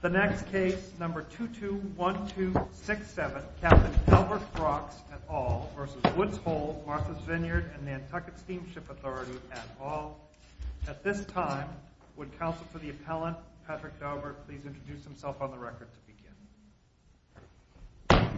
The next case, number 221267, Captain Albert Brox v. Woods Hole, Martha's Vineyard & Nantucket S.S. Auth. At this time, would counsel for the appellant, Patrick Daubert, please introduce himself on the record to begin.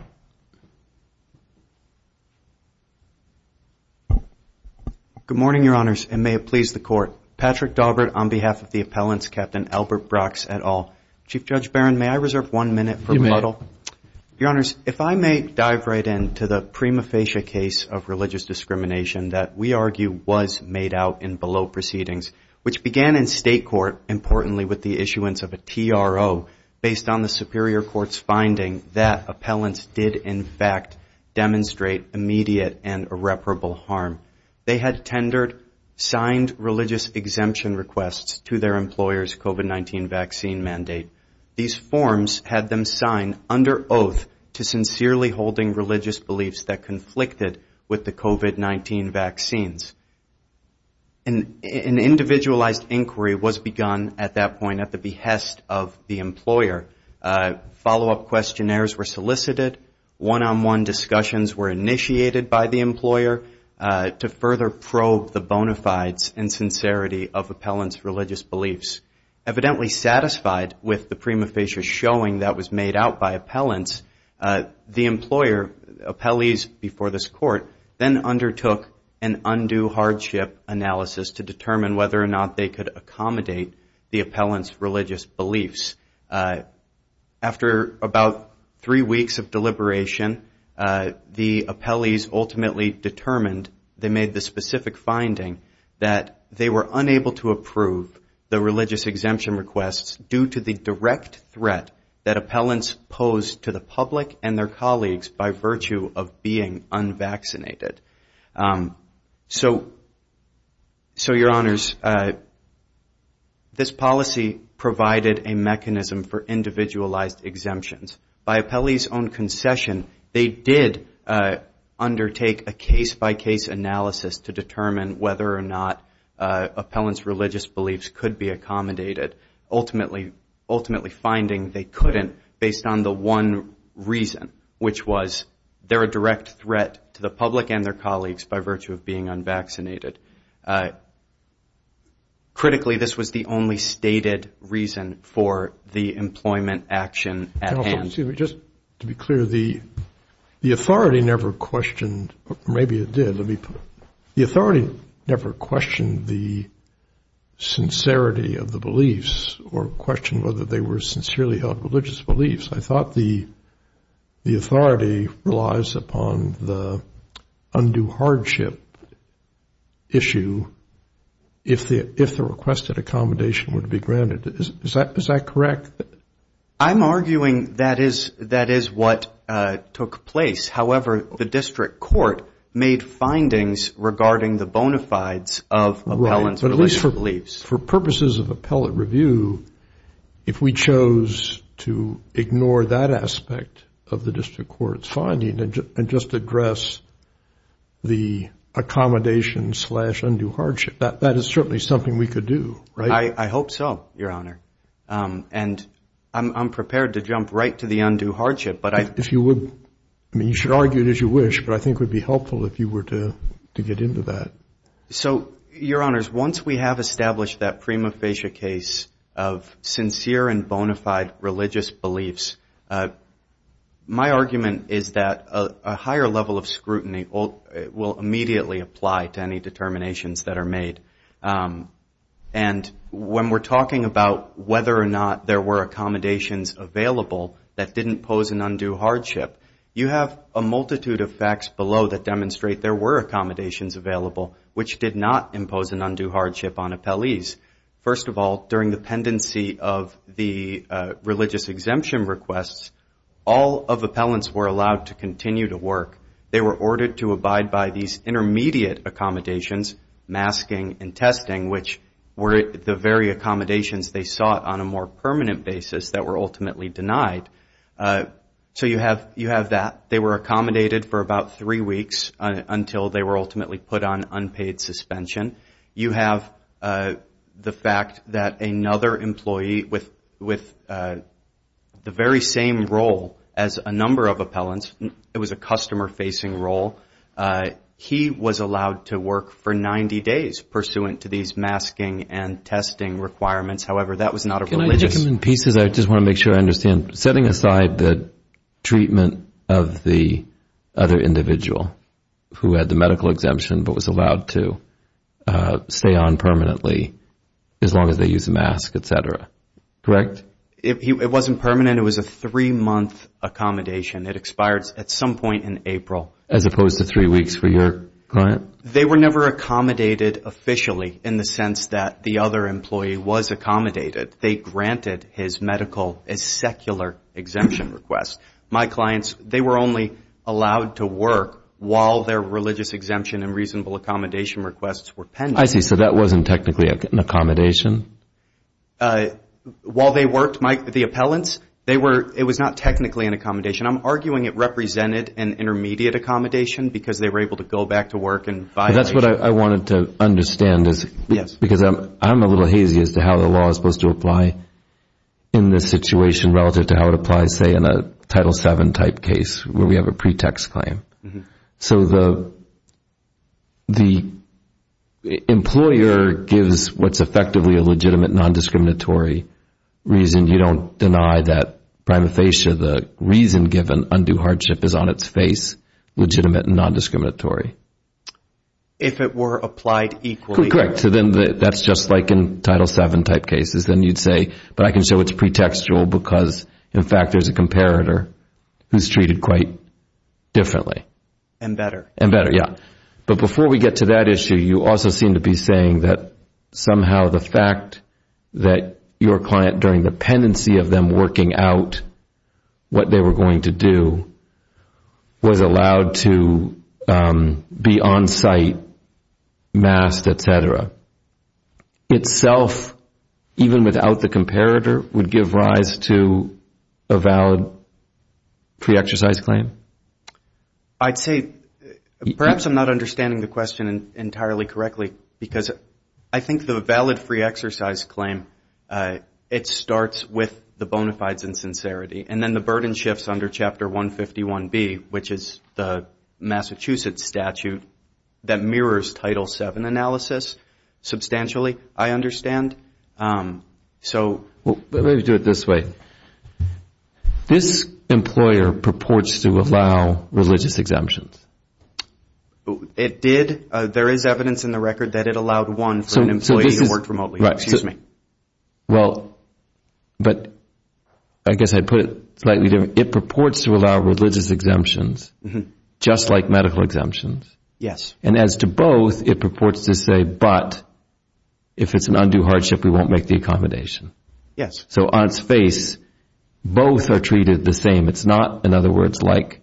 Good morning, Your Honors, and may it please the Court. Patrick Daubert on behalf of the appellants, Captain Albert Brox et al. Chief Judge Barron, may I reserve one minute for muddle? You may. Your Honors, if I may dive right in to the prima facie case of religious discrimination that we argue was made out in below proceedings, which began in state court, importantly with the issuance of a TRO based on the Superior Court's finding that appellants did in fact demonstrate immediate and irreparable harm. They had tendered signed religious exemption requests to their employer's COVID-19 vaccine mandate. These forms had them sign under oath to sincerely holding religious beliefs that conflicted with the COVID-19 vaccines. An individualized inquiry was begun at that point at the behest of the employer. Follow-up questionnaires were solicited. One-on-one discussions were initiated by the employer to further probe the bona fides and sincerity of appellants' religious beliefs. Evidently satisfied with the prima facie showing that was made out by appellants, the employer, appellees before this court then undertook an undue hardship analysis to determine whether or not they could accommodate the appellants' religious beliefs. After about three weeks of deliberation, the appellees ultimately determined they made the specific finding that they were unable to approve the unvaccinated. So, your honors, this policy provided a mechanism for individualized exemptions. By appellees' own concession, they did undertake a case-by-case analysis to determine whether or not appellants' religious beliefs could be a direct threat to the public and their colleagues by virtue of being unvaccinated. Critically, this was the only stated reason for the employment action at hand. Just to be clear, the authority never questioned, or maybe it did. The authority never questioned the sincerity of the beliefs or questioned whether they were sincerely held religious beliefs. I thought the authority relies upon the undue hardship issue if the requested accommodation would be granted. Is that correct? I'm arguing that is what took place. However, the district court made findings regarding the bona fides of appellants' religious beliefs. For purposes of appellate review, if we chose to ignore that aspect of the district court's finding and just address the accommodation slash undue hardship, that is certainly something we could do, right? I hope so, your honor. And I'm prepared to jump right to the undue hardship. If you would, I mean, you should argue it as you wish, but I think it would be helpful if you were to get into that. So, your honors, once we have established that prima facie case of sincere and bona fide religious beliefs, my argument is that a higher level of scrutiny will immediately apply to any determinations that are made. And when we're talking about whether or not there were accommodations available that didn't pose an undue hardship, you have a multitude of facts below that demonstrate there were accommodations available, which did not impose an undue hardship on appellees. First of all, during the pendency of the religious exemption requests, all of appellants were allowed to continue to work. They were ordered to abide by these intermediate accommodations, masking and testing, which were the very accommodations they sought on a more permanent basis that were ultimately denied. So you have that. They were accommodated for about three weeks until they were ultimately put on unpaid suspension. You have the fact that another employee with the very same role as a number of appellants, it was a customer-facing role, he was allowed to work for 90 days pursuant to these masking and testing requirements. However, that was not a religious. In pieces, I just want to make sure I understand. Setting aside the treatment of the other individual who had the medical exemption but was allowed to stay on permanently as long as they use a mask, et cetera. Correct? It wasn't permanent. It was a three-month accommodation. It expired at some point in April. As opposed to three weeks for your client? They were never accommodated officially in the sense that the other employee was accommodated. They granted his medical as secular exemption request. My clients, they were only allowed to work while their religious exemption and reasonable accommodation requests were pending. I see. So that wasn't technically an accommodation? While they worked, Mike, the appellants, it was not technically an accommodation. I'm arguing it represented an intermediate accommodation because they were able to go back to work in violation. That's what I wanted to understand is because I'm a little hazy as to how the law is supposed to apply in this situation relative to how it applies, say, in a Title VII type case where we have a pretext claim. So the employer gives what's effectively a legitimate non-discriminatory reason. You don't deny that prima facie the reason given undue hardship is on its face legitimate and non-discriminatory? If it were applied equally. Correct. So then that's just like in Title VII type cases. Then you'd say, but I can show it's pretextual because, in fact, there's a comparator who's treated quite differently. And better. And better, yeah. But before we get to that issue, you also seem to be saying that somehow the fact that your client, during the pendency of them working out what they were going to do, was allowed to be on site, masked, et cetera, itself, even without the comparator, would give rise to a valid pre-exercise claim? I'd say, perhaps I'm not understanding the question entirely correctly, because I think the valid pre-exercise claim, it starts with the bona fides and sincerity, and then the burden shifts under Chapter 151B, which is the Massachusetts statute, that mirrors Title VII analysis substantially, I understand. Let me do it this way. This employer purports to allow religious exemptions. It did. There is evidence in the record that it allowed one for an employee who worked remotely. Right. Well, but I guess I'd put it slightly different. It purports to allow religious exemptions, just like medical exemptions. Yes. And as to both, it purports to say, but if it's an undue hardship, we won't make the accommodation. Yes. So on its face, both are treated the same. It's not, in other words, like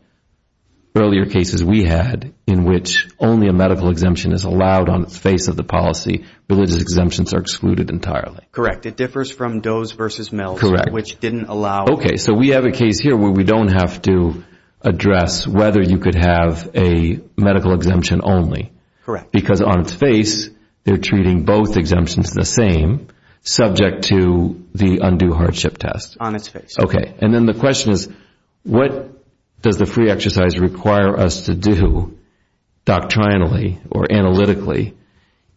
earlier cases we had, in which only a medical exemption is allowed on the face of the policy. Religious exemptions are excluded entirely. Correct. It differs from Doe's versus Mills, which didn't allow. Okay. So we have a case here where we don't have to address whether you could have a medical exemption only. Correct. Because on its face, they're treating both exemptions the same, subject to the undue hardship test. On its face. Okay. And then the question is, what does the free exercise require us to do doctrinally or analytically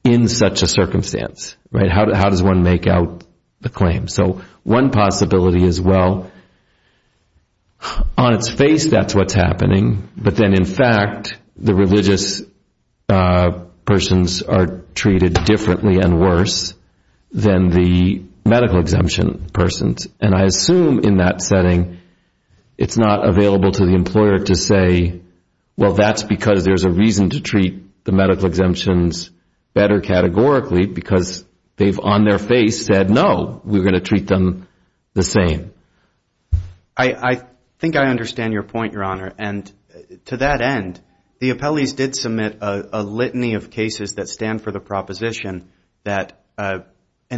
in such a circumstance? How does one make out the claim? So one possibility is, well, on its face that's what's happening, but then, in fact, the religious persons are treated differently and worse than the medical exemption persons. And I assume in that setting it's not available to the employer to say, well, that's because there's a reason to treat the medical exemptions better categorically, because they've on their face said, no, we're going to treat them the same. I think I understand your point, Your Honor. And to that end, the appellees did submit a litany of cases that stand for the proposition that an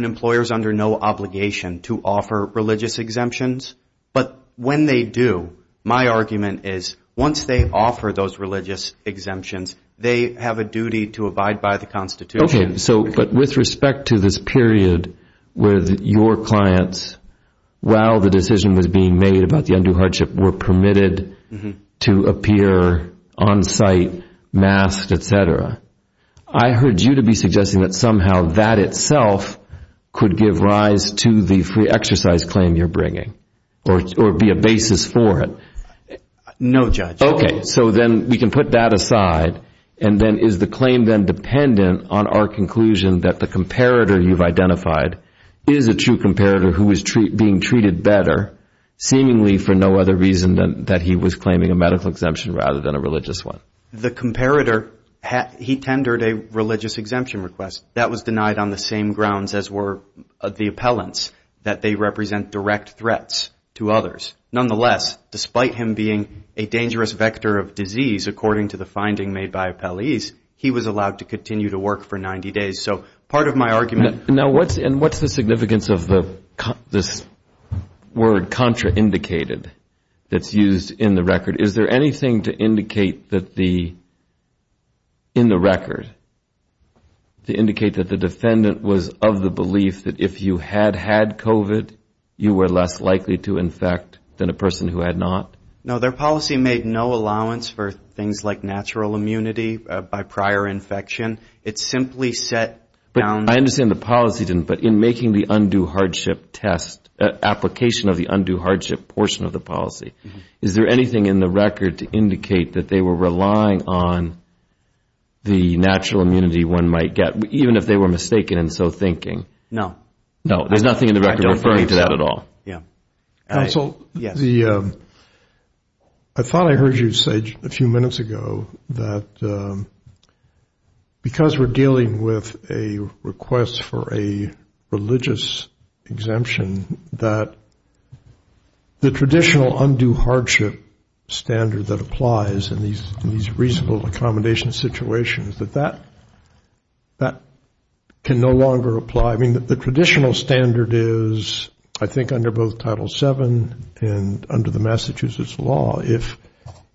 employer is under no obligation to offer religious exemptions. But when they do, my argument is once they offer those religious exemptions, they have a duty to abide by the Constitution. Okay. So but with respect to this period where your clients, while the decision was being made about the undue hardship, were permitted to appear on site masked, et cetera, I heard you to be suggesting that somehow that itself could give rise to the free exercise claim you're bringing or be a basis for it. No, Judge. Okay. So then we can put that aside. And then is the claim then dependent on our conclusion that the comparator you've identified is a true comparator who is being treated better, seemingly for no other reason than that he was claiming a medical exemption rather than a religious one? The comparator, he tendered a religious exemption request. That was denied on the same grounds as were the appellants, that they represent direct threats to others. Nonetheless, despite him being a dangerous vector of disease, according to the finding made by appellees, he was allowed to continue to work for 90 days. So part of my argument. Now, what's the significance of this word contraindicated that's used in the record? Is there anything to indicate that the, in the record, to indicate that the defendant was of the belief that if you had had COVID, you were less likely to infect than a person who had not? No, their policy made no allowance for things like natural immunity by prior infection. It simply set down. I understand the policy didn't, but in making the undue hardship test, application of the undue hardship portion of the policy, is there anything in the record to indicate that they were relying on the natural immunity one might get, even if they were mistaken in so thinking? No. No, there's nothing in the record referring to that at all? Yeah. Counsel, I thought I heard you say a few minutes ago that because we're dealing with a request for a religious exemption, that the traditional undue hardship standard that applies in these reasonable accommodation situations, that that can no longer apply. I mean, the traditional standard is, I think, under both Title VII and under the Massachusetts law, if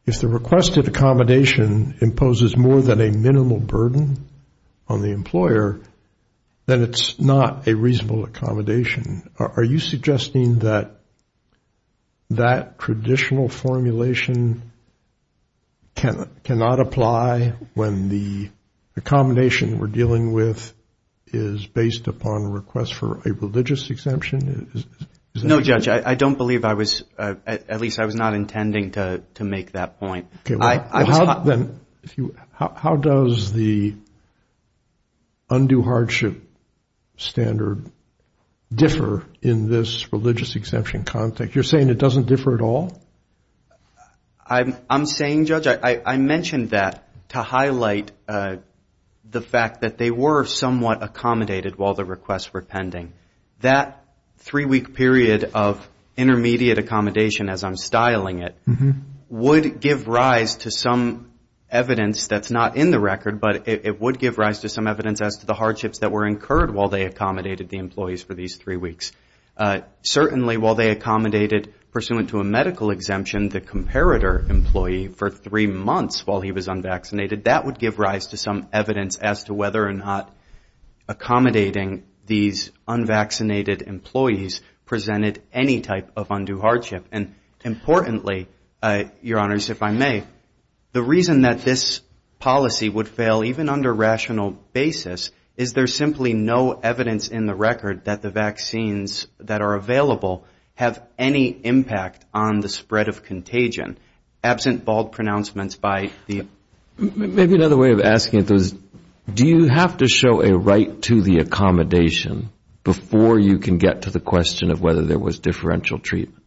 the requested accommodation imposes more than a minimal burden on the employer, then it's not a reasonable accommodation. Are you suggesting that that traditional formulation cannot apply when the accommodation we're dealing with is based upon a request for a religious exemption? No, Judge, I don't believe I was, at least I was not intending to make that point. How does the undue hardship standard differ in this religious exemption context? You're saying it doesn't differ at all? I'm saying, Judge, I mentioned that to highlight the fact that they were somewhat accommodated while the requests were pending. That three-week period of intermediate accommodation, as I'm styling it, would give rise to some evidence that's not in the record, but it would give rise to some evidence as to the hardships that were incurred while they accommodated the employees for these three weeks. Certainly, while they accommodated, pursuant to a medical exemption, the comparator employee for three months while he was unvaccinated, that would give rise to some evidence as to whether or not accommodating these unvaccinated employees presented any type of undue hardship. And importantly, Your Honors, if I may, the reason that this policy would fail, even under rational basis, is there's simply no evidence in the record that the vaccines that are available have any impact on the spread of contagion. Absent bald pronouncements by the... Maybe another way of asking it, though, is do you have to show a right to the accommodation before you can get to the question of whether there was differential treatment?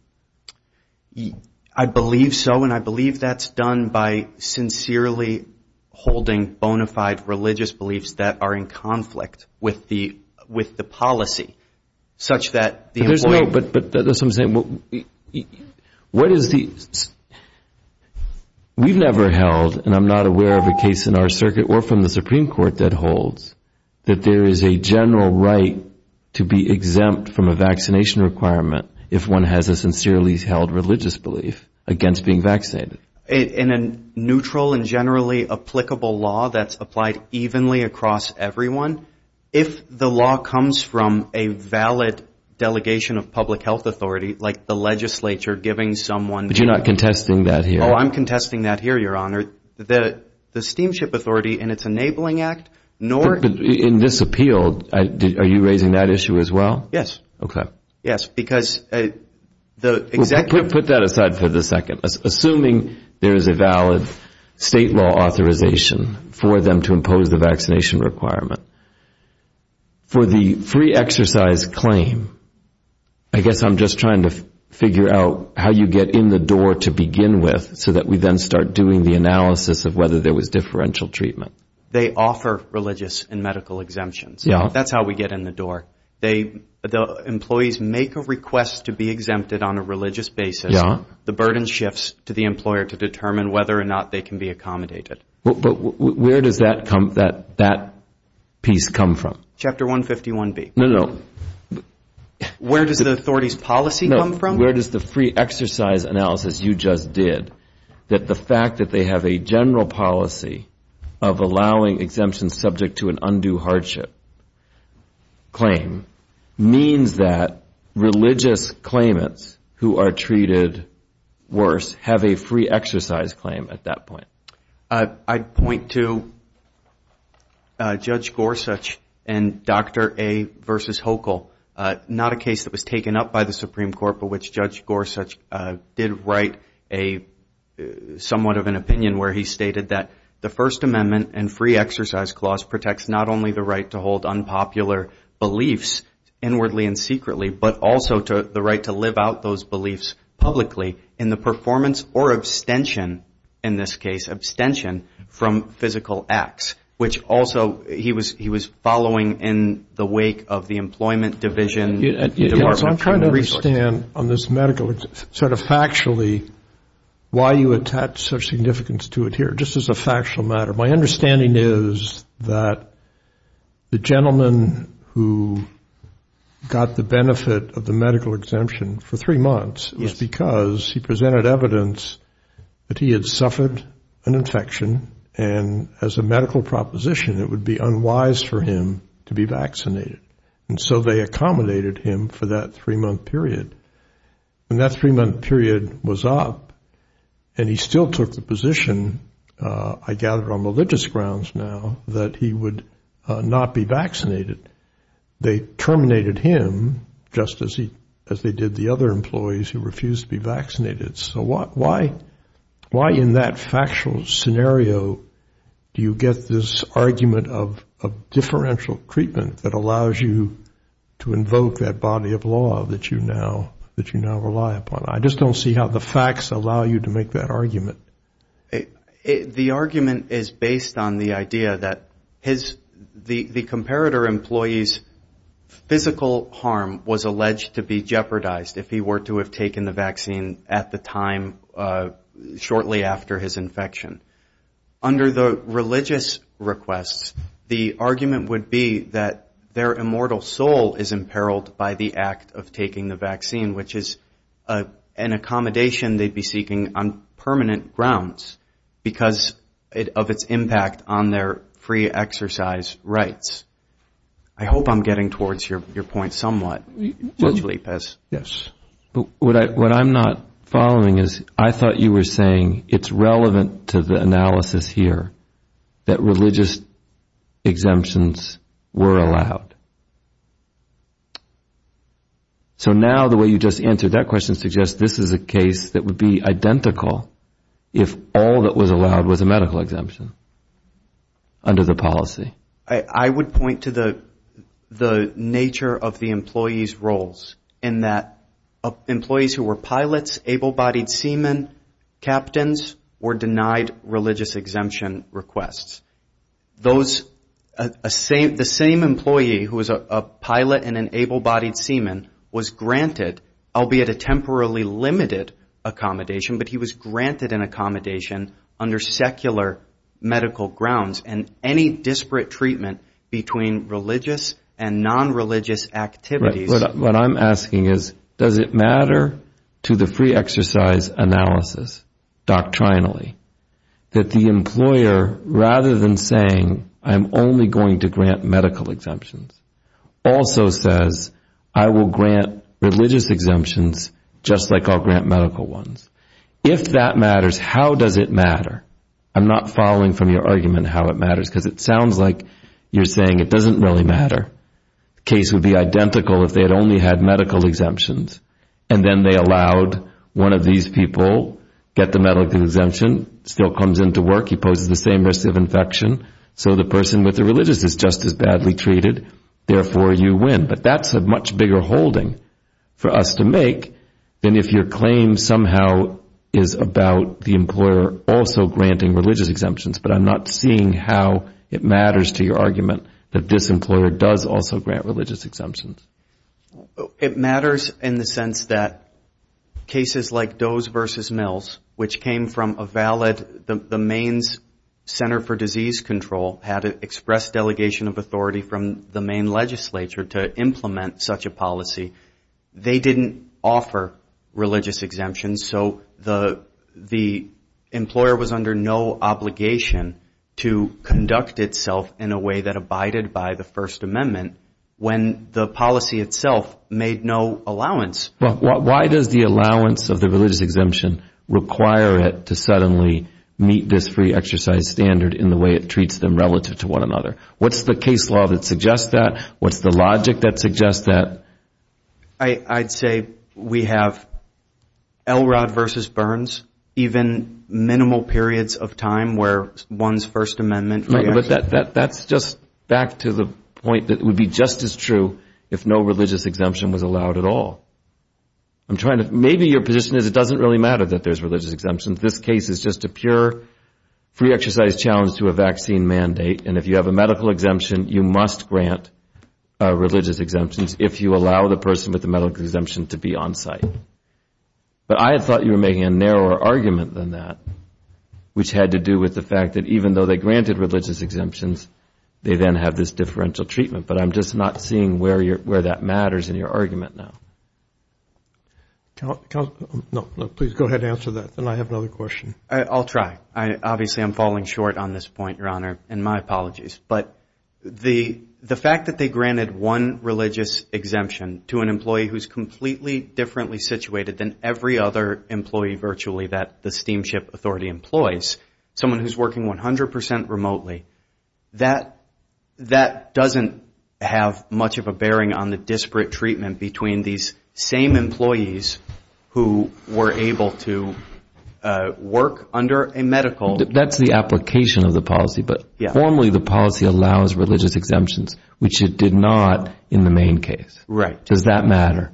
I believe so, and I believe that's done by sincerely holding bona fide religious beliefs that are in conflict with the policy, such that the employee... But that's what I'm saying. We've never held, and I'm not aware of a case in our circuit or from the Supreme Court that holds, that there is a general right to be exempt from a vaccination requirement if one has a sincerely held religious belief against being vaccinated. In a neutral and generally applicable law that's applied evenly across everyone, if the law comes from a valid delegation of public health authority, like the legislature giving someone... But you're not contesting that here. Oh, I'm contesting that here, Your Honor. The Steamship Authority in its Enabling Act nor... But in this appeal, are you raising that issue as well? Yes. Okay. Yes, because the executive... For the free exercise claim, I guess I'm just trying to figure out how you get in the door to begin with so that we then start doing the analysis of whether there was differential treatment. They offer religious and medical exemptions. That's how we get in the door. The employees make a request to be exempted on a religious basis. The burden shifts to the employer to determine whether or not they can be accommodated. But where does that piece come from? Chapter 151B. No, no, no. Where does the authority's policy come from? No, where does the free exercise analysis you just did, that the fact that they have a general policy of allowing exemptions subject to an undue hardship claim, means that religious claimants who are treated worse have a free exercise claim at that point? I'd point to Judge Gorsuch and Dr. A. v. Hochul. Not a case that was taken up by the Supreme Court, but which Judge Gorsuch did write somewhat of an opinion where he stated that the First Amendment and free exercise clause protects not only the right to hold unpopular beliefs inwardly and secretly, but also the right to live out those beliefs publicly in the performance or abstention, in this case abstention from physical acts, which also he was following in the wake of the employment division. I'm trying to understand on this medical sort of factually why you attach such significance to it here. Just as a factual matter, my understanding is that the gentleman who got the benefit of the medical exemption for three months was because he presented evidence that he had suffered an infection, and as a medical proposition it would be unwise for him to be vaccinated. And so they accommodated him for that three-month period. And that three-month period was up, and he still took the position, I gather on religious grounds now, that he would not be vaccinated. They terminated him just as they did the other employees who refused to be vaccinated. So why in that factual scenario do you get this argument of differential treatment that allows you to invoke that body of law that you now rely upon? I just don't see how the facts allow you to make that argument. The argument is based on the idea that the comparator employee's physical harm was alleged to be jeopardized if he were to have taken the vaccine at the time shortly after his infection. Under the religious requests, the argument would be that their immortal soul is imperiled by the act of taking the vaccine, which is an accommodation they'd be seeking on permanent grounds, because of its impact on their free exercise rights. I hope I'm getting towards your point somewhat. Yes. What I'm not following is I thought you were saying it's relevant to the analysis here that religious exemptions were allowed. So now the way you just answered that question suggests this is a case that would be identical if all that was allowed was a medical exemption under the policy. I would point to the nature of the employee's roles in that employees who were pilots, able-bodied seamen, captains, were denied religious exemption requests. The same employee who was a pilot and an able-bodied seaman was granted, albeit a temporarily limited accommodation, but he was granted an accommodation under secular medical grounds and any disparate treatment between religious and nonreligious activities. What I'm asking is does it matter to the free exercise analysis doctrinally that the employer, rather than saying I'm only going to grant medical exemptions, also says I will grant religious exemptions just like I'll grant medical ones. If that matters, how does it matter? I'm not following from your argument how it matters because it sounds like you're saying it doesn't really matter. The case would be identical if they had only had medical exemptions and then they allowed one of these people get the medical exemption, still comes into work, he poses the same risk of infection, so the person with the religious is just as badly treated, therefore you win. But that's a much bigger holding for us to make than if your claim somehow is about the employer also granting religious exemptions, but I'm not seeing how it matters to your argument that this employer does also grant religious exemptions. It matters in the sense that cases like Doe's versus Mills, which came from a valid, the Maine's Center for Disease Control had an express delegation of authority from the Maine legislature to implement such a policy. They didn't offer religious exemptions, so the employer was under no obligation to conduct itself in a way that abided by the First Amendment when the policy itself made no allowance. Why does the allowance of the religious exemption require it to suddenly meet this free exercise standard in the way it treats them relative to one another? What's the case law that suggests that? What's the logic that suggests that? I'd say we have Elrod versus Burns, even minimal periods of time where one's First Amendment... But that's just back to the point that it would be just as true if no religious exemption was allowed at all. Maybe your position is it doesn't really matter that there's religious exemptions. This case is just a pure free exercise challenge to a vaccine mandate, and if you have a medical exemption, you must grant religious exemptions if you allow the person with the medical exemption to be on site. But I thought you were making a narrower argument than that, which had to do with the fact that even though they granted religious exemptions, they then have this differential treatment. But I'm just not seeing where that matters in your argument now. Please go ahead and answer that, then I have another question. I'll try. Obviously, I'm falling short on this point, Your Honor, and my apologies. But the fact that they granted one religious exemption to an employee who's completely differently situated than every other employee virtually that the Steamship Authority employs, someone who's working 100 percent remotely, that doesn't have much of a bearing on the disparate treatment between these same employees who were able to work under a medical exemption. That's the application of the policy, but formally the policy allows religious exemptions, which it did not in the main case. Does that matter?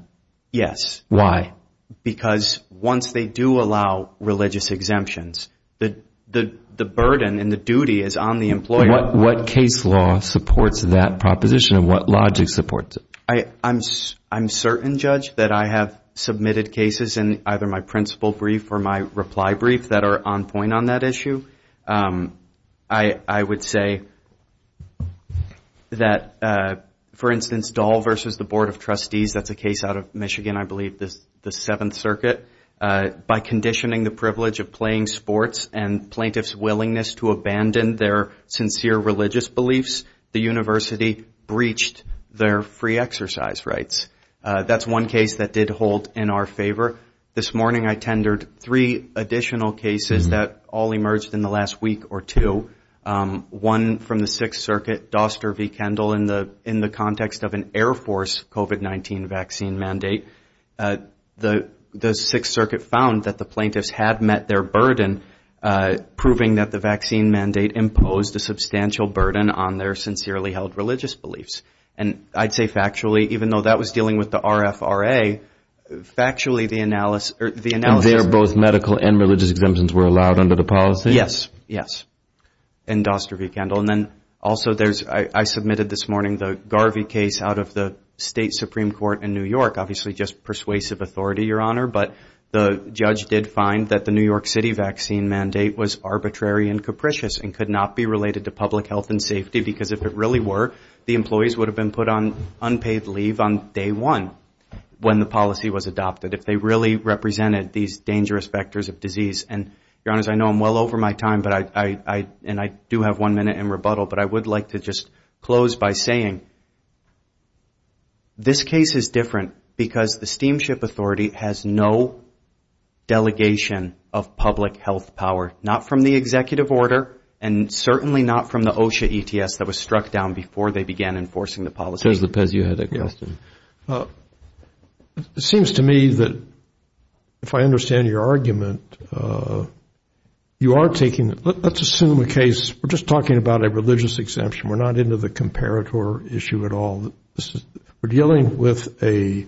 Yes. Why? Because once they do allow religious exemptions, the burden and the duty is on the employer. What case law supports that proposition and what logic supports it? I'm certain, Judge, that I have submitted cases in either my principle brief or my reply brief that are on point on that issue. One of them is the case of Michigan, I believe, the Seventh Circuit. By conditioning the privilege of playing sports and plaintiff's willingness to abandon their sincere religious beliefs, the university breached their free exercise rights. That's one case that did hold in our favor. This morning I tendered three additional cases that all emerged in the last week or two. One from the Sixth Circuit, Doster v. Kendall, in the context of an Air Force COVID-19 vaccine mandate. The Sixth Circuit found that the plaintiffs had met their burden, proving that the vaccine mandate imposed a substantial burden on their sincerely held religious beliefs. And I'd say factually, even though that was dealing with the RFRA, factually the analysis... Both medical and religious exemptions were allowed under the policy? Yes, yes. And Doster v. Kendall. And then also I submitted this morning the Garvey case out of the State Supreme Court in New York, obviously just persuasive authority, Your Honor, but the judge did find that the New York City vaccine mandate was arbitrary and capricious and could not be related to public health and safety because if it really were, the employees would have been put on unpaid leave on day one when the policy was adopted, if they really represented these dangerous vectors of disease. And, Your Honor, I know I'm well over my time, and I do have one minute in rebuttal, but I would like to just close by saying, this case is different because the Steamship Authority has no delegation of public health power, not from the executive order and certainly not from the OSHA ETS that was struck down before they began enforcing the policy. Judge Lopez, you had a question. It seems to me that if I understand your argument, you are taking, let's assume a case, we're just talking about a religious exemption, we're not into the comparator issue at all, we're dealing with a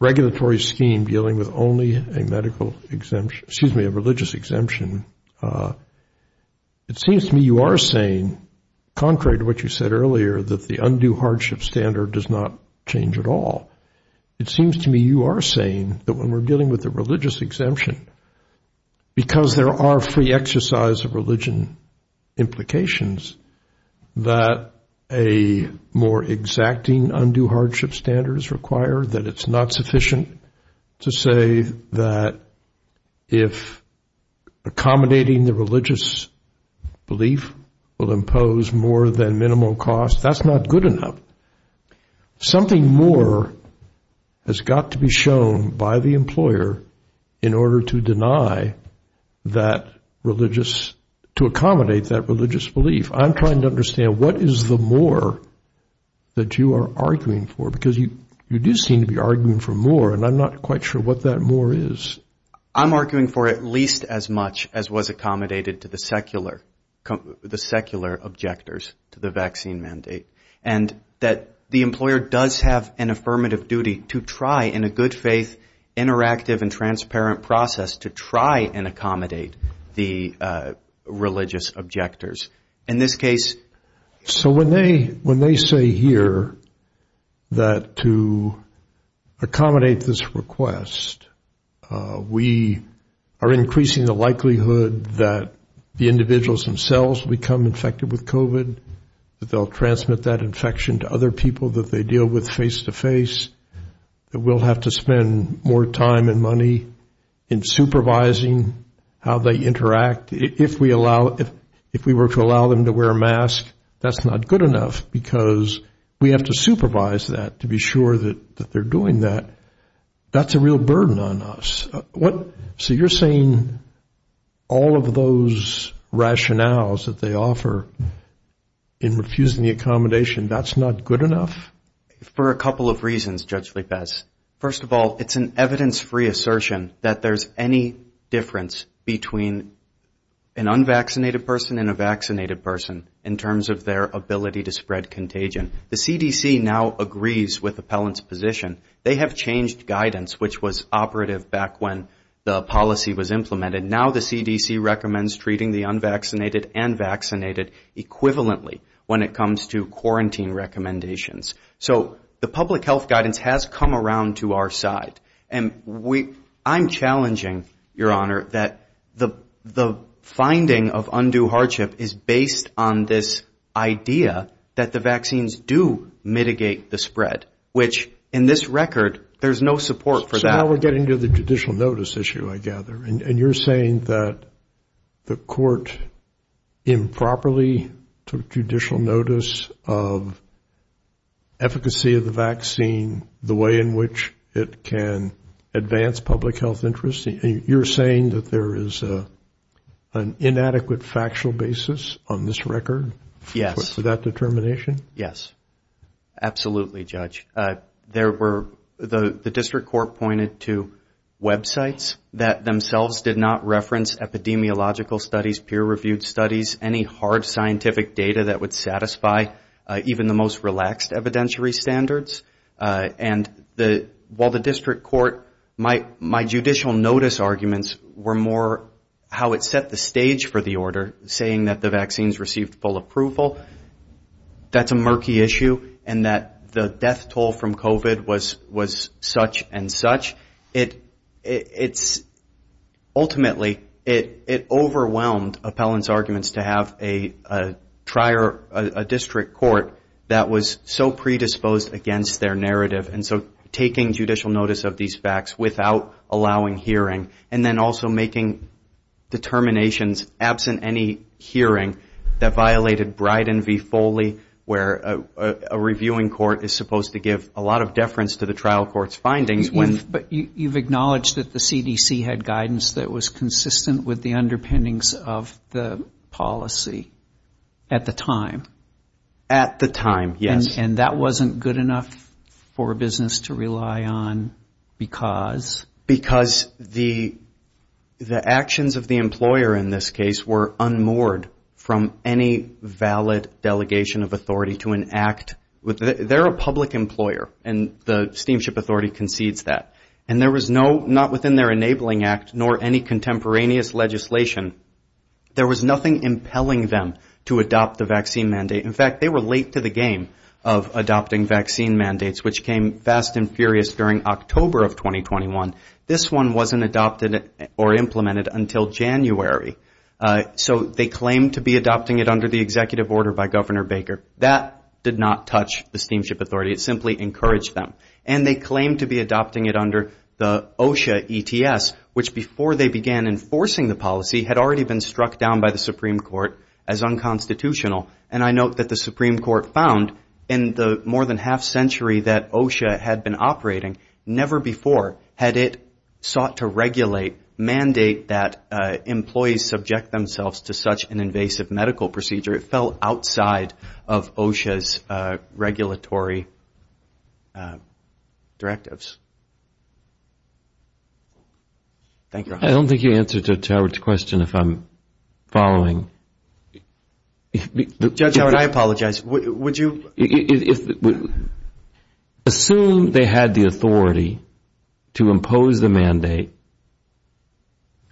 regulatory scheme dealing with only a medical exemption, excuse me, a religious exemption. It seems to me you are saying, contrary to what you said earlier, that the undue hardship standard does not change at all. It seems to me you are saying that when we're dealing with a religious exemption, because there are free exercise of religion implications, that a more exacting undue hardship standard is required, that it's not sufficient to say that if a person accommodating the religious belief will impose more than minimal cost, that's not good enough. Something more has got to be shown by the employer in order to deny that religious, to accommodate that religious belief. I'm trying to understand, what is the more that you are arguing for? Because you do seem to be arguing for more, and I'm not quite sure what that more is. I'm arguing for at least as much as was accommodated to the secular objectors to the vaccine mandate, and that the employer does have an affirmative duty to try in a good faith, interactive and transparent process to try and accommodate the religious objectors. In this case... So when they say here that to accommodate this request, we are increasing the likelihood that the individuals themselves become infected with COVID, that they'll transmit that infection to other people that they deal with face-to-face, that we'll have to spend more time and money in supervising how they interact. If we were to allow them to wear a mask, that's not good enough, because we have to supervise that to be sure that they're doing that. That's a real burden on us. So you're saying all of those rationales that they offer in refusing the accommodation, that's not good enough? For a couple of reasons, Judge Lipez. First of all, it's an evidence-free assertion that there's any difference between an unvaccinated person and a vaccinated person in terms of their ability to spread contagion. The CDC now agrees with appellant's position. They have changed guidance, which was operative back when the policy was implemented. Now the CDC recommends treating the unvaccinated and vaccinated equivalently when it comes to quarantine recommendations. So the public health guidance has come around to our side. I'm challenging, Your Honor, that the finding of undue hardship is based on this idea that the vaccines do mitigate the spread, which in this record, there's no support for that. You're saying that the court improperly took judicial notice of efficacy of the vaccine, the way in which it can advance public health interest. You're saying that there is an inadequate factual basis on this record for that determination? Yes, absolutely, Judge. The district court pointed to websites that themselves did not reference epidemiological studies, peer-reviewed studies, any hard scientific data that would satisfy even the most relaxed evidentiary standards. And while the district court, my judicial notice arguments were more how it set the stage for the order, saying that the vaccines control from COVID was such and such, ultimately, it overwhelmed appellant's arguments to have a district court that was so predisposed against their narrative. And so taking judicial notice of these facts without allowing hearing, and then also making determinations absent any hearing that a reviewing court is supposed to give a lot of deference to the trial court's findings. But you've acknowledged that the CDC had guidance that was consistent with the underpinnings of the policy at the time? At the time, yes. And that wasn't good enough for business to rely on because? Because the actions of the employer in this case were unmoored from any valid delegation of authority to an act. They're a public employer, and the Steamship Authority concedes that. And there was no, not within their enabling act, nor any contemporaneous legislation. There was nothing impelling them to adopt the vaccine mandate. In fact, they were late to the game of adopting vaccine mandates, which came fast and furious during October of 2021. This one wasn't adopted or implemented until January. So they claimed to be adopting it under the executive order by Governor Baker. That did not touch the Steamship Authority. It simply encouraged them. And they claimed to be adopting it under the OSHA ETS, which before they began enforcing the policy, had already been struck down by the Supreme Court as unconstitutional. And I note that the Supreme Court found in the more than half century that OSHA had been operating, never before had it sought to regulate, mandate that employees subject themselves to such an invasive medical procedure. It fell outside of OSHA's regulatory framework. Thank you. I don't think you answered Judge Howard's question if I'm following. Judge Howard, I apologize. Assume they had the authority to impose the mandate.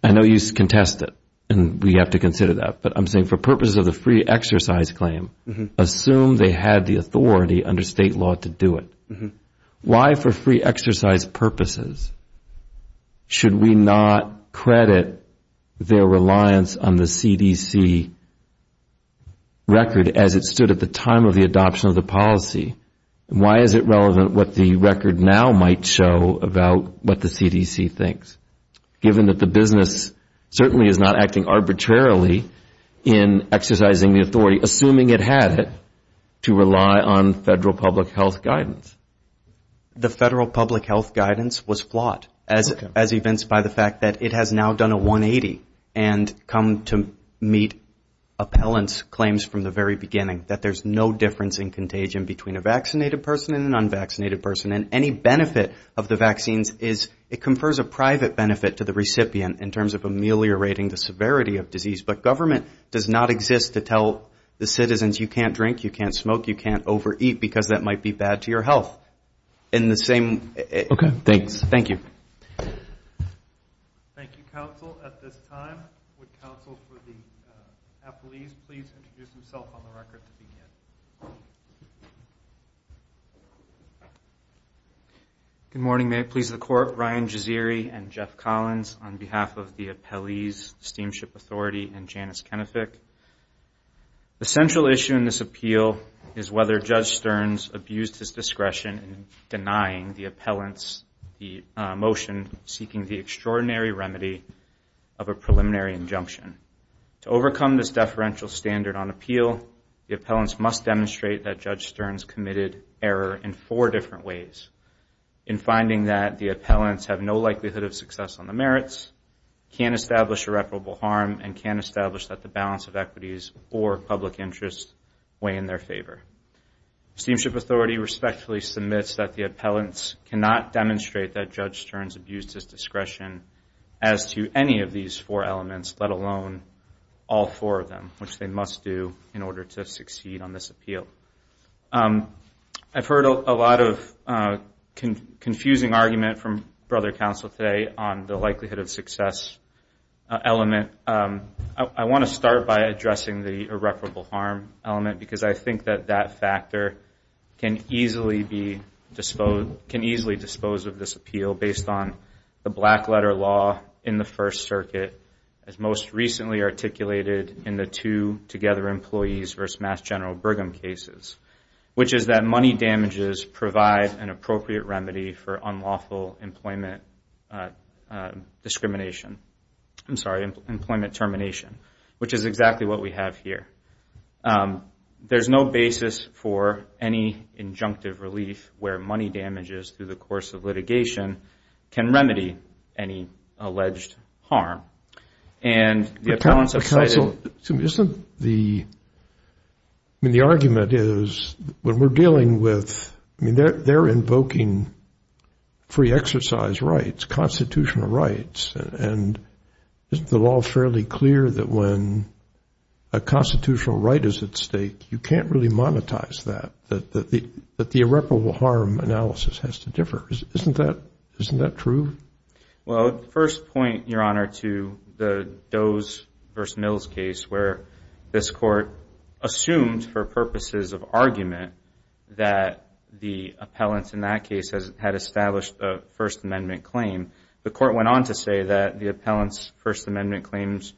I know you contest it, and we have to consider that. But I'm saying for purposes of the free exercise claim, assume they had the authority under state law to do it. Why, for free exercise purposes, should we not credit their reliance on the CDC record as it stood at the time of the adoption of the policy? And why is it relevant what the record now might show about what the CDC thinks, given that the business certainly is not acting arbitrarily in exercising the authority, assuming it had it, to rely on federal public health guidance? The federal public health guidance was flawed, as evinced by the fact that it has now done a 180 and come to meet appellant's claims from the very beginning, that there's no difference in contagion between a vaccinated person and an unvaccinated person. And any benefit of the vaccines is, it confers a private benefit to the recipient, in terms of ameliorating the severity of disease. But government does not exist to tell the citizens you can't drink, you can't smoke, you can't overeat, because that might be bad to your health. In the same... Okay, thanks. Thank you. Thank you, counsel. At this time, would counsel for the appellees please introduce themselves on the record to begin. Good morning. May it please the Court. I'm here on behalf of the appellees, Steamship Authority, and Janice Kenefick. The central issue in this appeal is whether Judge Stearns abused his discretion in denying the appellants the motion seeking the extraordinary remedy of a preliminary injunction. To overcome this deferential standard on appeal, the appellants must demonstrate that Judge Stearns committed error in four different ways. In finding that the appellants have no likelihood of success on the merits, can't establish irreparable harm, and can't establish that the balance of equities or public interest weigh in their favor. Steamship Authority respectfully submits that the appellants cannot demonstrate that Judge Stearns abused his discretion as to any of these four elements, let alone all four of them, which they must do in order to succeed on this appeal. I've heard a lot of confusing argument from Brother Counsel today on the likelihood of success element. I want to start by addressing the irreparable harm element, because I think that that factor can easily dispose of this appeal based on the black letter law in the First Circuit, as most recently articulated in the two together employees versus Mass General Burgum cases, which is that money damages provide an appropriate remedy for unlawful employment discrimination. I'm sorry, employment termination, which is exactly what we have here. There's no basis for any injunctive relief where money damages through the course of litigation can remedy any unlawful employment discrimination discrimination. Isn't the, I mean, the argument is when we're dealing with, I mean, they're invoking free exercise rights, constitutional rights, and isn't the law fairly clear that when a constitutional right is at stake, you can't really monetize that, that the irreparable harm analysis has to differ? Isn't that true? Well, first point, Your Honor, to the Doe's versus Mills case, where this court assumed for purposes of argument that the appellant in that case had established a First Amendment claim. The court went on to say that the appellant's First Amendment claims,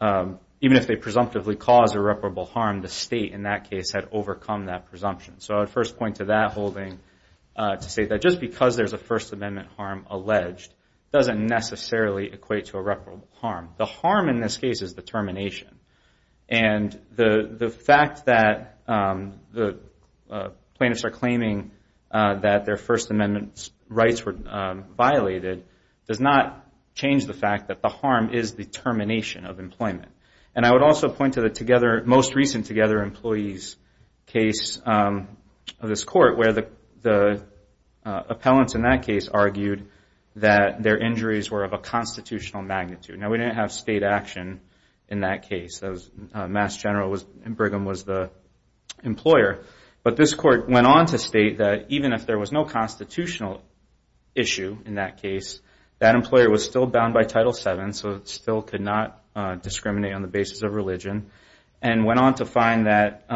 even if they presumptively cause irreparable harm, the state in that case had overcome that presumption. So I would first point to that holding to say that just because there's a First Amendment harm alleged doesn't necessarily equate to irreparable harm. The harm in this case is the termination. And the fact that the plaintiffs are claiming that their First Amendment rights were violated does not change the fact that the harm is the termination of employment. And I would also point to the most recent Together Employees case of this court, where the appellants in that case argued that their injuries were of a constitutional magnitude. Now, we didn't have state action in that case. Mass General and Brigham was the employer. But this court went on to state that even if there was no constitutional issue in that case, that employer was still bound by on the basis of religion, and went on to find that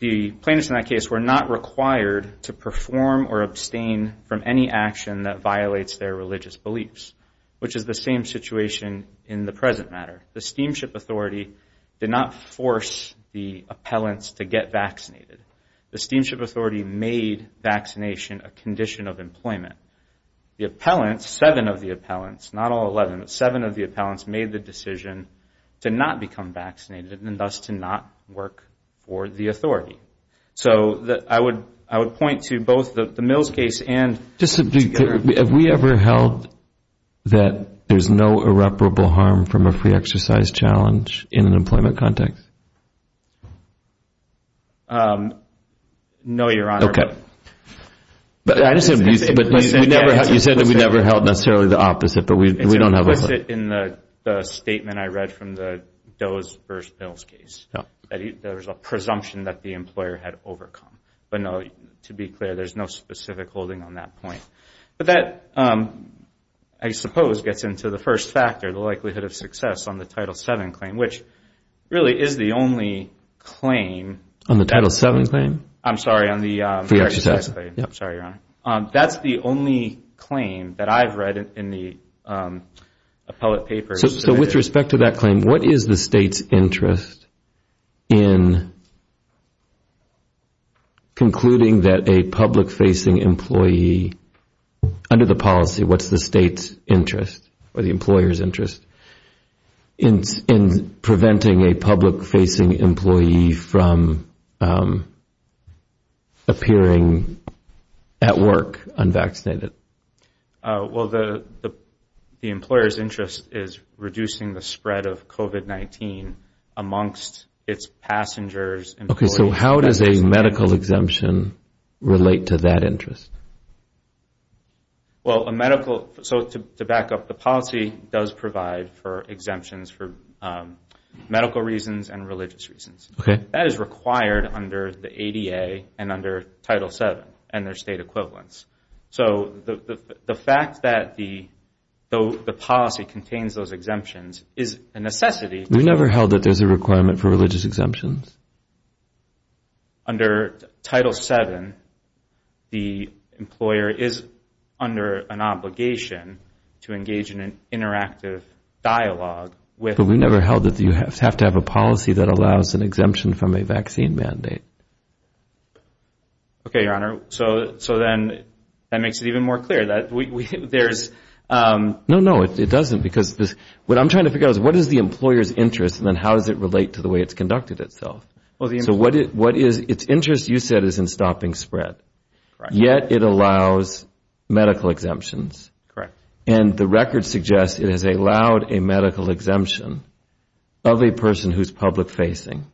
the plaintiffs in that case were not required to perform or abstain from any action that violates their religious beliefs, which is the same situation in the present matter. The Steamship Authority did not force the appellants to get vaccinated. The Steamship Authority made vaccination a condition of employment. The appellants, seven of the appellants, not all 11, but seven of the appellants made the decision to not become vaccinated and thus to not work for the authority. So I would point to both the Mills case and Together Employees. Have we ever held that there's no irreparable harm from a free exercise challenge in an employment context? No, Your Honor. Okay. But you said that we never held necessarily the opposite, but we don't have a... It's implicit in the statement I read from the Doe versus Mills case. There was a presumption that the employer had overcome. But no, to be clear, there's no specific holding on that point. But that, I suppose, gets into the first factor, the likelihood of success on the Title VII claim, which really is the only claim... On the Title VII claim? I'm sorry, on the exercise claim. I'm sorry, Your Honor. That's the only claim that I've read in the appellate papers. So with respect to that claim, what is the state's interest in concluding that a public-facing employee, under the policy, what's the state's interest or the employer's interest in preventing a public-facing employee from appearing at work unvaccinated? Well, the employer's interest is reducing the spread of COVID-19 amongst its passengers, employees... Okay, so how does a medical exemption relate to that interest? Well, a medical... So to back up, the policy does provide for exemptions for medical reasons and religious reasons. That is required under the ADA and under Title VII and their state equivalents. So the fact that the policy contains those exemptions is a necessity... We never held that there's a requirement for religious exemptions. Under Title VII, the employer is under an obligation to engage in an interactive dialogue with... Okay, Your Honor. So then that makes it even more clear that there's... No, no, it doesn't, because what I'm trying to figure out is what is the employer's interest and then how does it relate to the way it's conducted itself? So its interest, you said, is in stopping spread. Yet it allows medical exemptions. Correct. And the record suggests it has allowed a medical exemption of a person who's public-facing.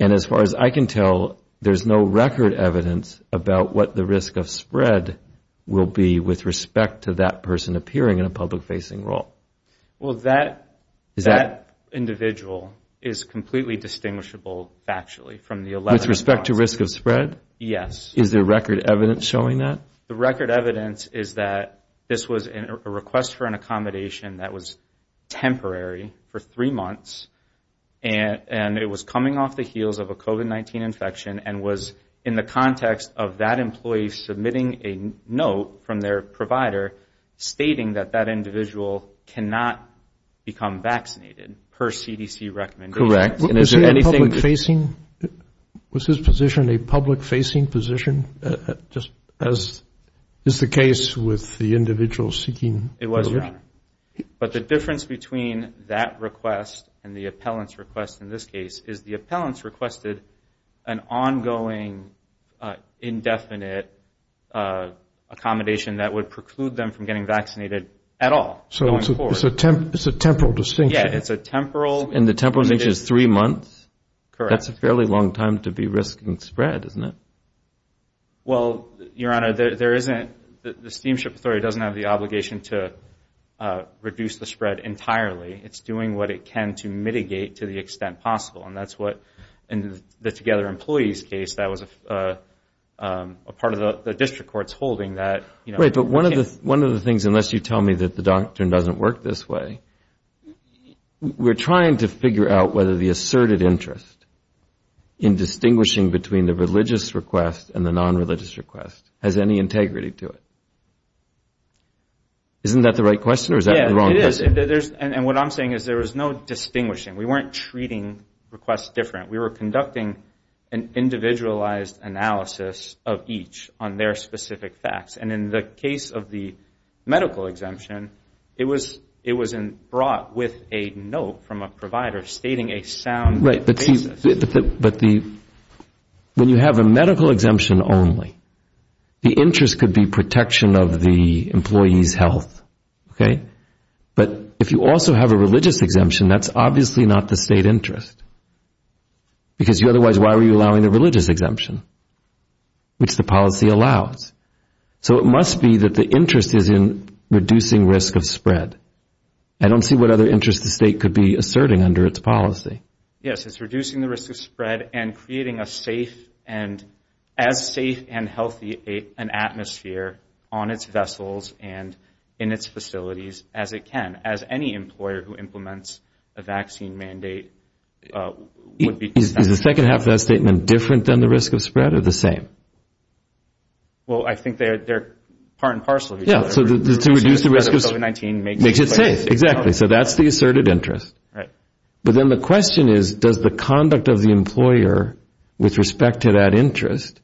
And as far as I can tell, there's no record evidence about what the risk of spread will be with respect to that person appearing in a public-facing role. Well, that individual is completely distinguishable factually from the 11... With respect to risk of spread? Yes. Is there record evidence showing that? The record evidence is that this was a request for an accommodation that was temporary for three months and it was coming off the heels of a COVID-19 infection and was in the context of that employee submitting a note from their provider stating that that individual cannot become vaccinated per CDC recommendations. Correct. Was his position a public-facing position, just as is the case with the individual seeking... It was, Your Honor. But the difference between that request and the appellant's request in this case is the appellant's requested an ongoing indefinite accommodation that would preclude them from getting vaccinated at all. So it's a temporal distinction. And the temporal distinction is three months? That's a fairly long time to be risking spread, isn't it? Well, Your Honor, the Steamship Authority doesn't have the obligation to reduce the spread entirely. It's doing what it can to mitigate to the extent possible. And that's what, in the Together Employees case, that was a part of the district court's holding that... Right, but one of the things, unless you tell me that the doctrine doesn't work this way, we're trying to figure out whether the asserted interest in distinguishing between the religious request and the non-religious request has any integrity to it. Isn't that the right question or is that the wrong question? Well, we were conducting an individualized analysis of each on their specific facts. And in the case of the medical exemption, it was brought with a note from a provider stating a sound basis. Right, but when you have a medical exemption only, the interest could be protection of the employee's health, okay? But if you also have a religious exemption, that's obviously not the state interest. Because otherwise, why were you allowing a religious exemption, which the policy allows? So it must be that the interest is in reducing risk of spread. I don't see what other interest the state could be asserting under its policy. Yes, it's reducing the risk of spread and creating a safe and... ...safe environment for the employer on its vessels and in its facilities as it can. As any employer who implements a vaccine mandate would be... Is the second half of that statement different than the risk of spread or the same? Well, I think they're part and parcel of each other. Yeah, so to reduce the risk of COVID-19 makes it safe. Exactly, so that's the asserted interest. But then the question is, does the conduct of the employer with respect to that interest...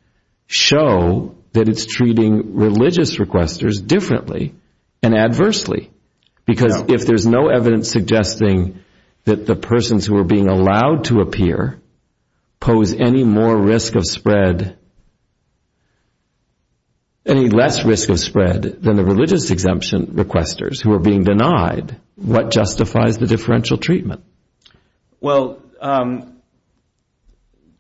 ...show that it's treating religious requesters differently and adversely? Because if there's no evidence suggesting that the persons who are being allowed to appear... ...pose any more risk of spread... ...any less risk of spread than the religious exemption requesters who are being denied... ...what justifies the differential treatment? Well,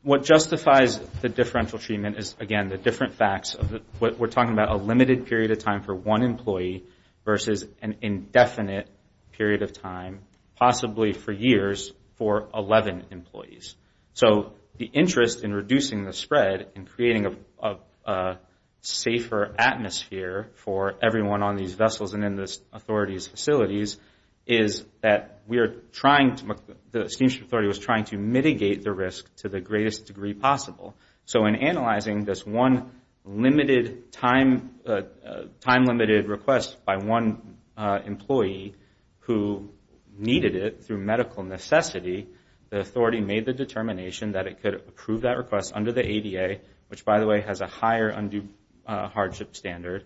what justifies the differential treatment is, again, the different facts. We're talking about a limited period of time for one employee versus an indefinite period of time... ...possibly for years for 11 employees. So the interest in reducing the spread and creating a safer atmosphere for everyone on these vessels... ...is that the Steamship Authority was trying to mitigate the risk to the greatest degree possible. So in analyzing this one time-limited request by one employee who needed it through medical necessity... ...the Authority made the determination that it could approve that request under the ADA... ...which, by the way, has a higher undue hardship standard...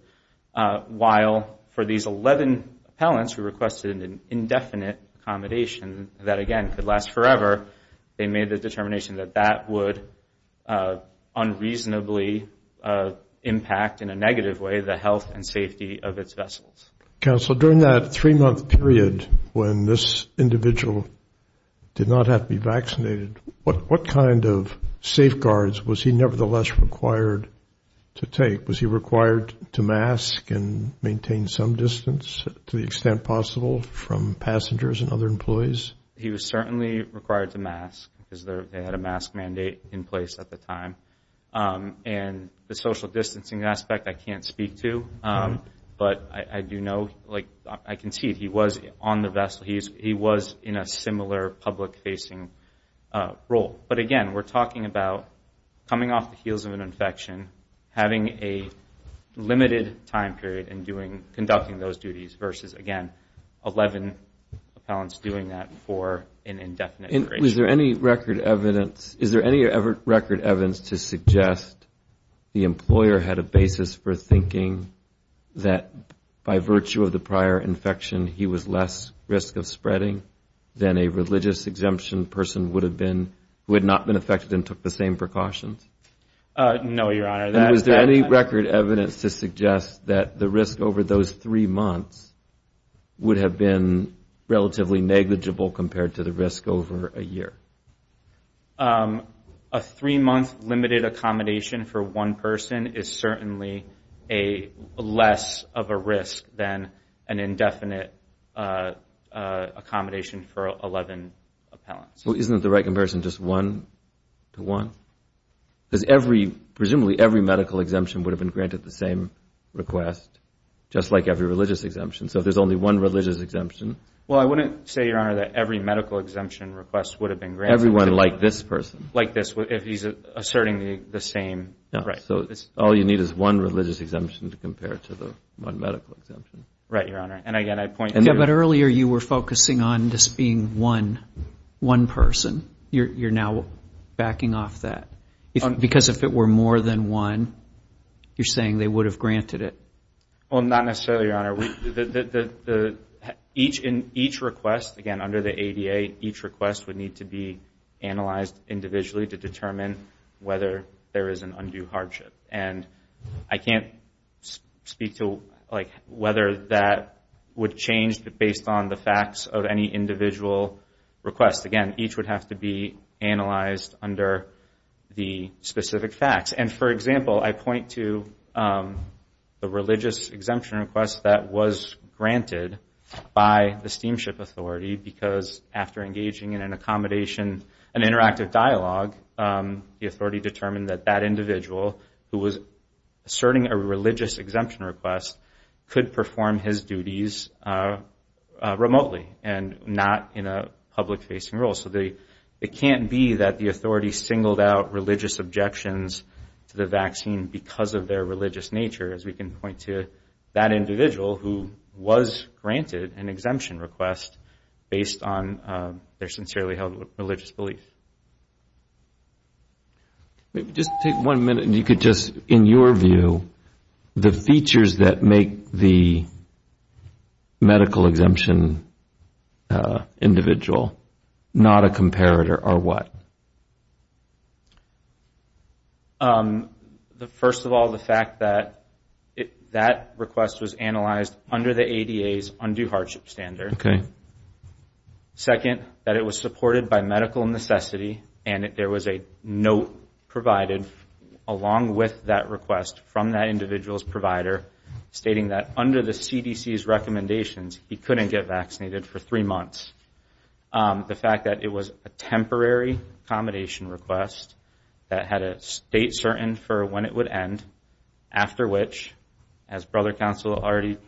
...while for these 11 appellants who requested an indefinite accommodation that, again, could last forever... ...they made the determination that that would unreasonably impact in a negative way the health and safety of its vessels. Counsel, during that three-month period when this individual did not have to be vaccinated... ...what kind of safeguards was he nevertheless required to take? Was he required to mask and maintain some distance to the extent possible from passengers and other employees? He was certainly required to mask because they had a mask mandate in place at the time. And the social distancing aspect I can't speak to, but I do know... ...I can see he was on the vessel, he was in a similar public-facing role. But again, we're talking about coming off the heels of an infection, having a limited time period in conducting those duties... ...versus, again, 11 appellants doing that for an indefinite duration. Was there any record evidence to suggest the employer had a basis for thinking that by virtue of the prior infection... ...there was less risk of spreading than a religious-exemption person would have been who had not been affected and took the same precautions? No, Your Honor. And was there any record evidence to suggest that the risk over those three months would have been relatively negligible compared to the risk over a year? A three-month limited accommodation for one person is certainly less of a risk than an indefinite time period. And I'm not sure there was any record evidence to suggest that the employer had a basis for thinking that by virtue of the prior infection... ...there was less risk of spreading than a religious-exemption person would have been who had not been affected and took the same precautions. Well, isn't the right comparison just one-to-one? Because presumably every medical exemption would have been granted the same request, just like every religious exemption. So if there's only one religious exemption... Well, I wouldn't say, Your Honor, that every medical exemption request would have been granted. Everyone like this person? Like this, if he's asserting the same... Right. Each request, again, under the ADA, each request would need to be analyzed individually to determine whether there is an undue hardship. And I can't speak to whether that would change based on the facts of any individual request. Again, each would have to be analyzed under the specific facts. And, for example, I point to the religious-exemption request that was granted. By the steamship authority, because after engaging in an accommodation, an interactive dialogue, the authority determined that that individual, who was asserting a religious-exemption request, could perform his duties remotely and not in a public-facing role. So it can't be that the authority singled out religious objections to the vaccine because of their religious nature, as we can point to that individual who was granted an exemption request based on their sincerely held religious belief. Just take one minute, and you could just, in your view, the features that make the medical exemption individual not a comparator are what? First of all, the fact that that request was analyzed under the ADA's undue hardship standard. Second, that it was supported by medical necessity, and there was a note provided along with that request from that individual's provider stating that under the CDC's recommendations, he couldn't get vaccinated for three months. The fact that it was a temporary accommodation request that had a date certain for when it would end, after which, as Brother Counsel already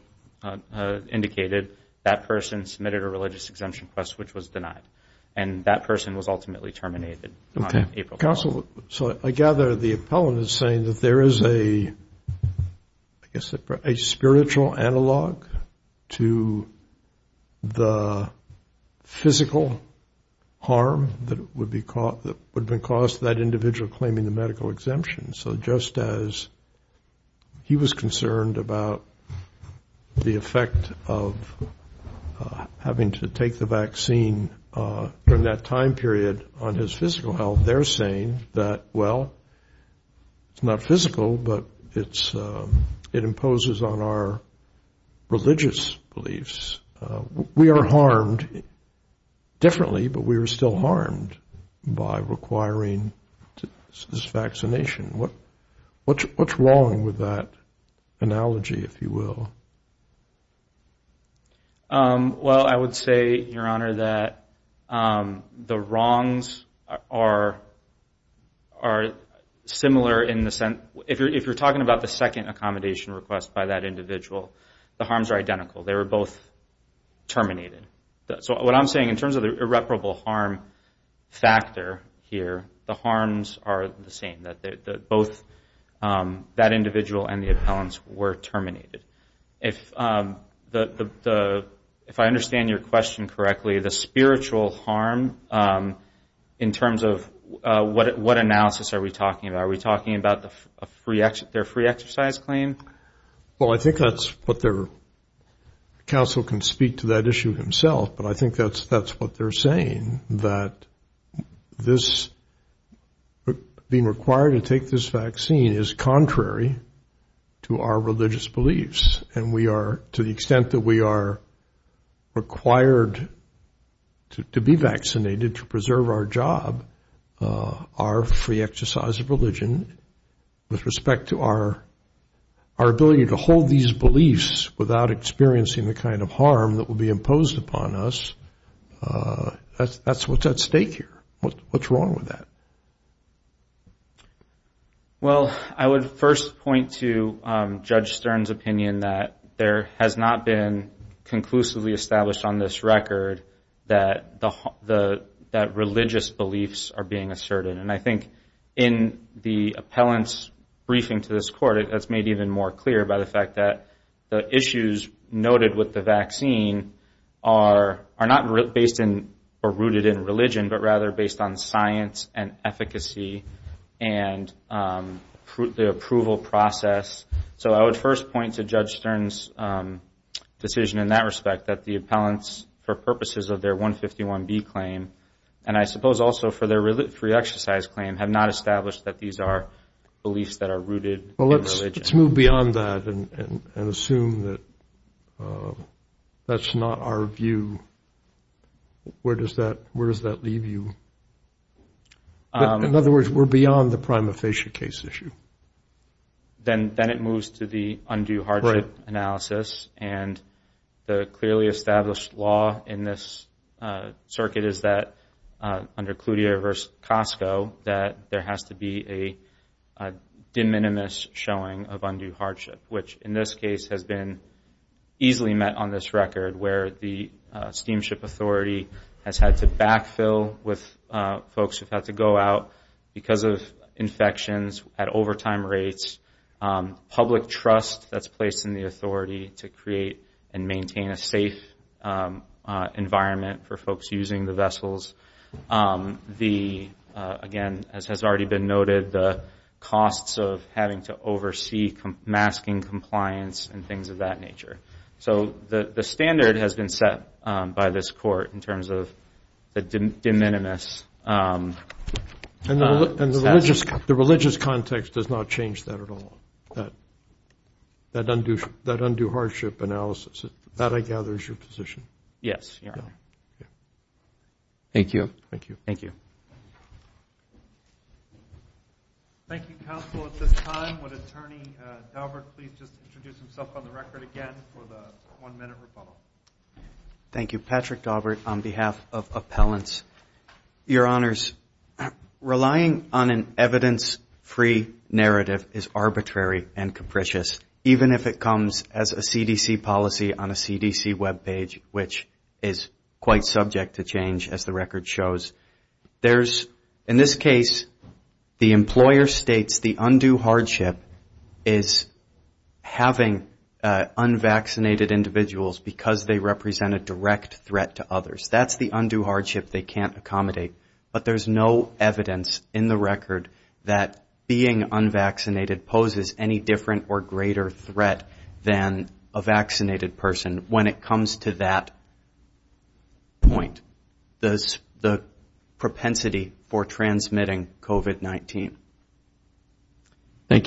indicated, that person submitted a religious-exemption request, which was denied. And that person was ultimately terminated on April 12th. Okay. Counsel, so I gather the appellant is saying that there is a, I guess, a spiritual analog of physical harm that would be caused to that individual claiming the medical exemption. So just as he was concerned about the effect of having to take the vaccine during that time period on his physical health, they're saying that, well, it's not physical, but it imposes on our religious beliefs. We are harmed differently, but we are still harmed by requiring this vaccination. What's wrong with that analogy, if you will? Well, I would say, Your Honor, that the wrongs are similar in the sense, if you're talking about the second accommodation request by that individual, the harms are identical. They were both terminated. So what I'm saying, in terms of the irreparable harm factor here, the harms are the same, that both that individual and the appellants were terminated. If I understand your question correctly, the spiritual harm, in terms of what analysis are we talking about? Are we talking about their free exercise claim? The counsel can speak to that issue himself, but I think that's what they're saying, that being required to take this vaccine is contrary to our religious beliefs. And we are, to the extent that we are required to be vaccinated to preserve our job, our free exercise of religion, with respect to our ability to hold these beliefs without experiencing the kind of harm that will be imposed upon us, that's what's at stake here. What's wrong with that? Well, I would first point to Judge Stern's opinion that there has not been conclusively established on this record that religious beliefs are being asserted. And I think in the appellant's briefing to this court, that's made even more clear by the fact that the issues noted with the vaccine are not based in or rooted in religion, but rather based on science and efficacy and the approval process. So I would first point to Judge Stern's decision in that respect that the appellants, for purposes of their 151B claim, and I suppose also for their free exercise claim, have not established that these are beliefs that are rooted in religion. Well, let's move beyond that and assume that that's not our view. Where does that leave you? In other words, we're beyond the prima facie case issue. Then it moves to the undue hardship analysis, and the clearly established law in this circuit is that under Cloutier v. Costco, that there has to be a de minimis showing of undue hardship, which in this case has been easily met on this record, where the steamship authority has had to backfill with folks who've had to go out because of infections, at overtime rates, public trust that's placed in the authority to create and maintain a safe environment for folks using the vessels. Again, as has already been noted, the costs of having to oversee masking compliance and things of that nature. So the standard has been set by this court in terms of the de minimis. And the religious context does not change that at all. That undue hardship analysis, that, I gather, is your position. Yes, Your Honor. Thank you, counsel. At this time, would Attorney Daubert please just introduce himself on the record again for the one-minute rebuttal? Thank you, Patrick Daubert, on behalf of appellants. Your Honors, relying on an evidence-free narrative is arbitrary and capricious, even if it comes as a CDC policy on a CDC web page, which is quite subject to change, as the record shows. There's, in this case, the employer states the undue hardship is having unvaccinated individuals because they represent a direct threat to others. That's the undue hardship they can't accommodate. But there's no evidence in the record that being unvaccinated poses any different or greater threat than a vaccinated person when it comes to that point, the propensity for transmitting COVID-19. Thank you.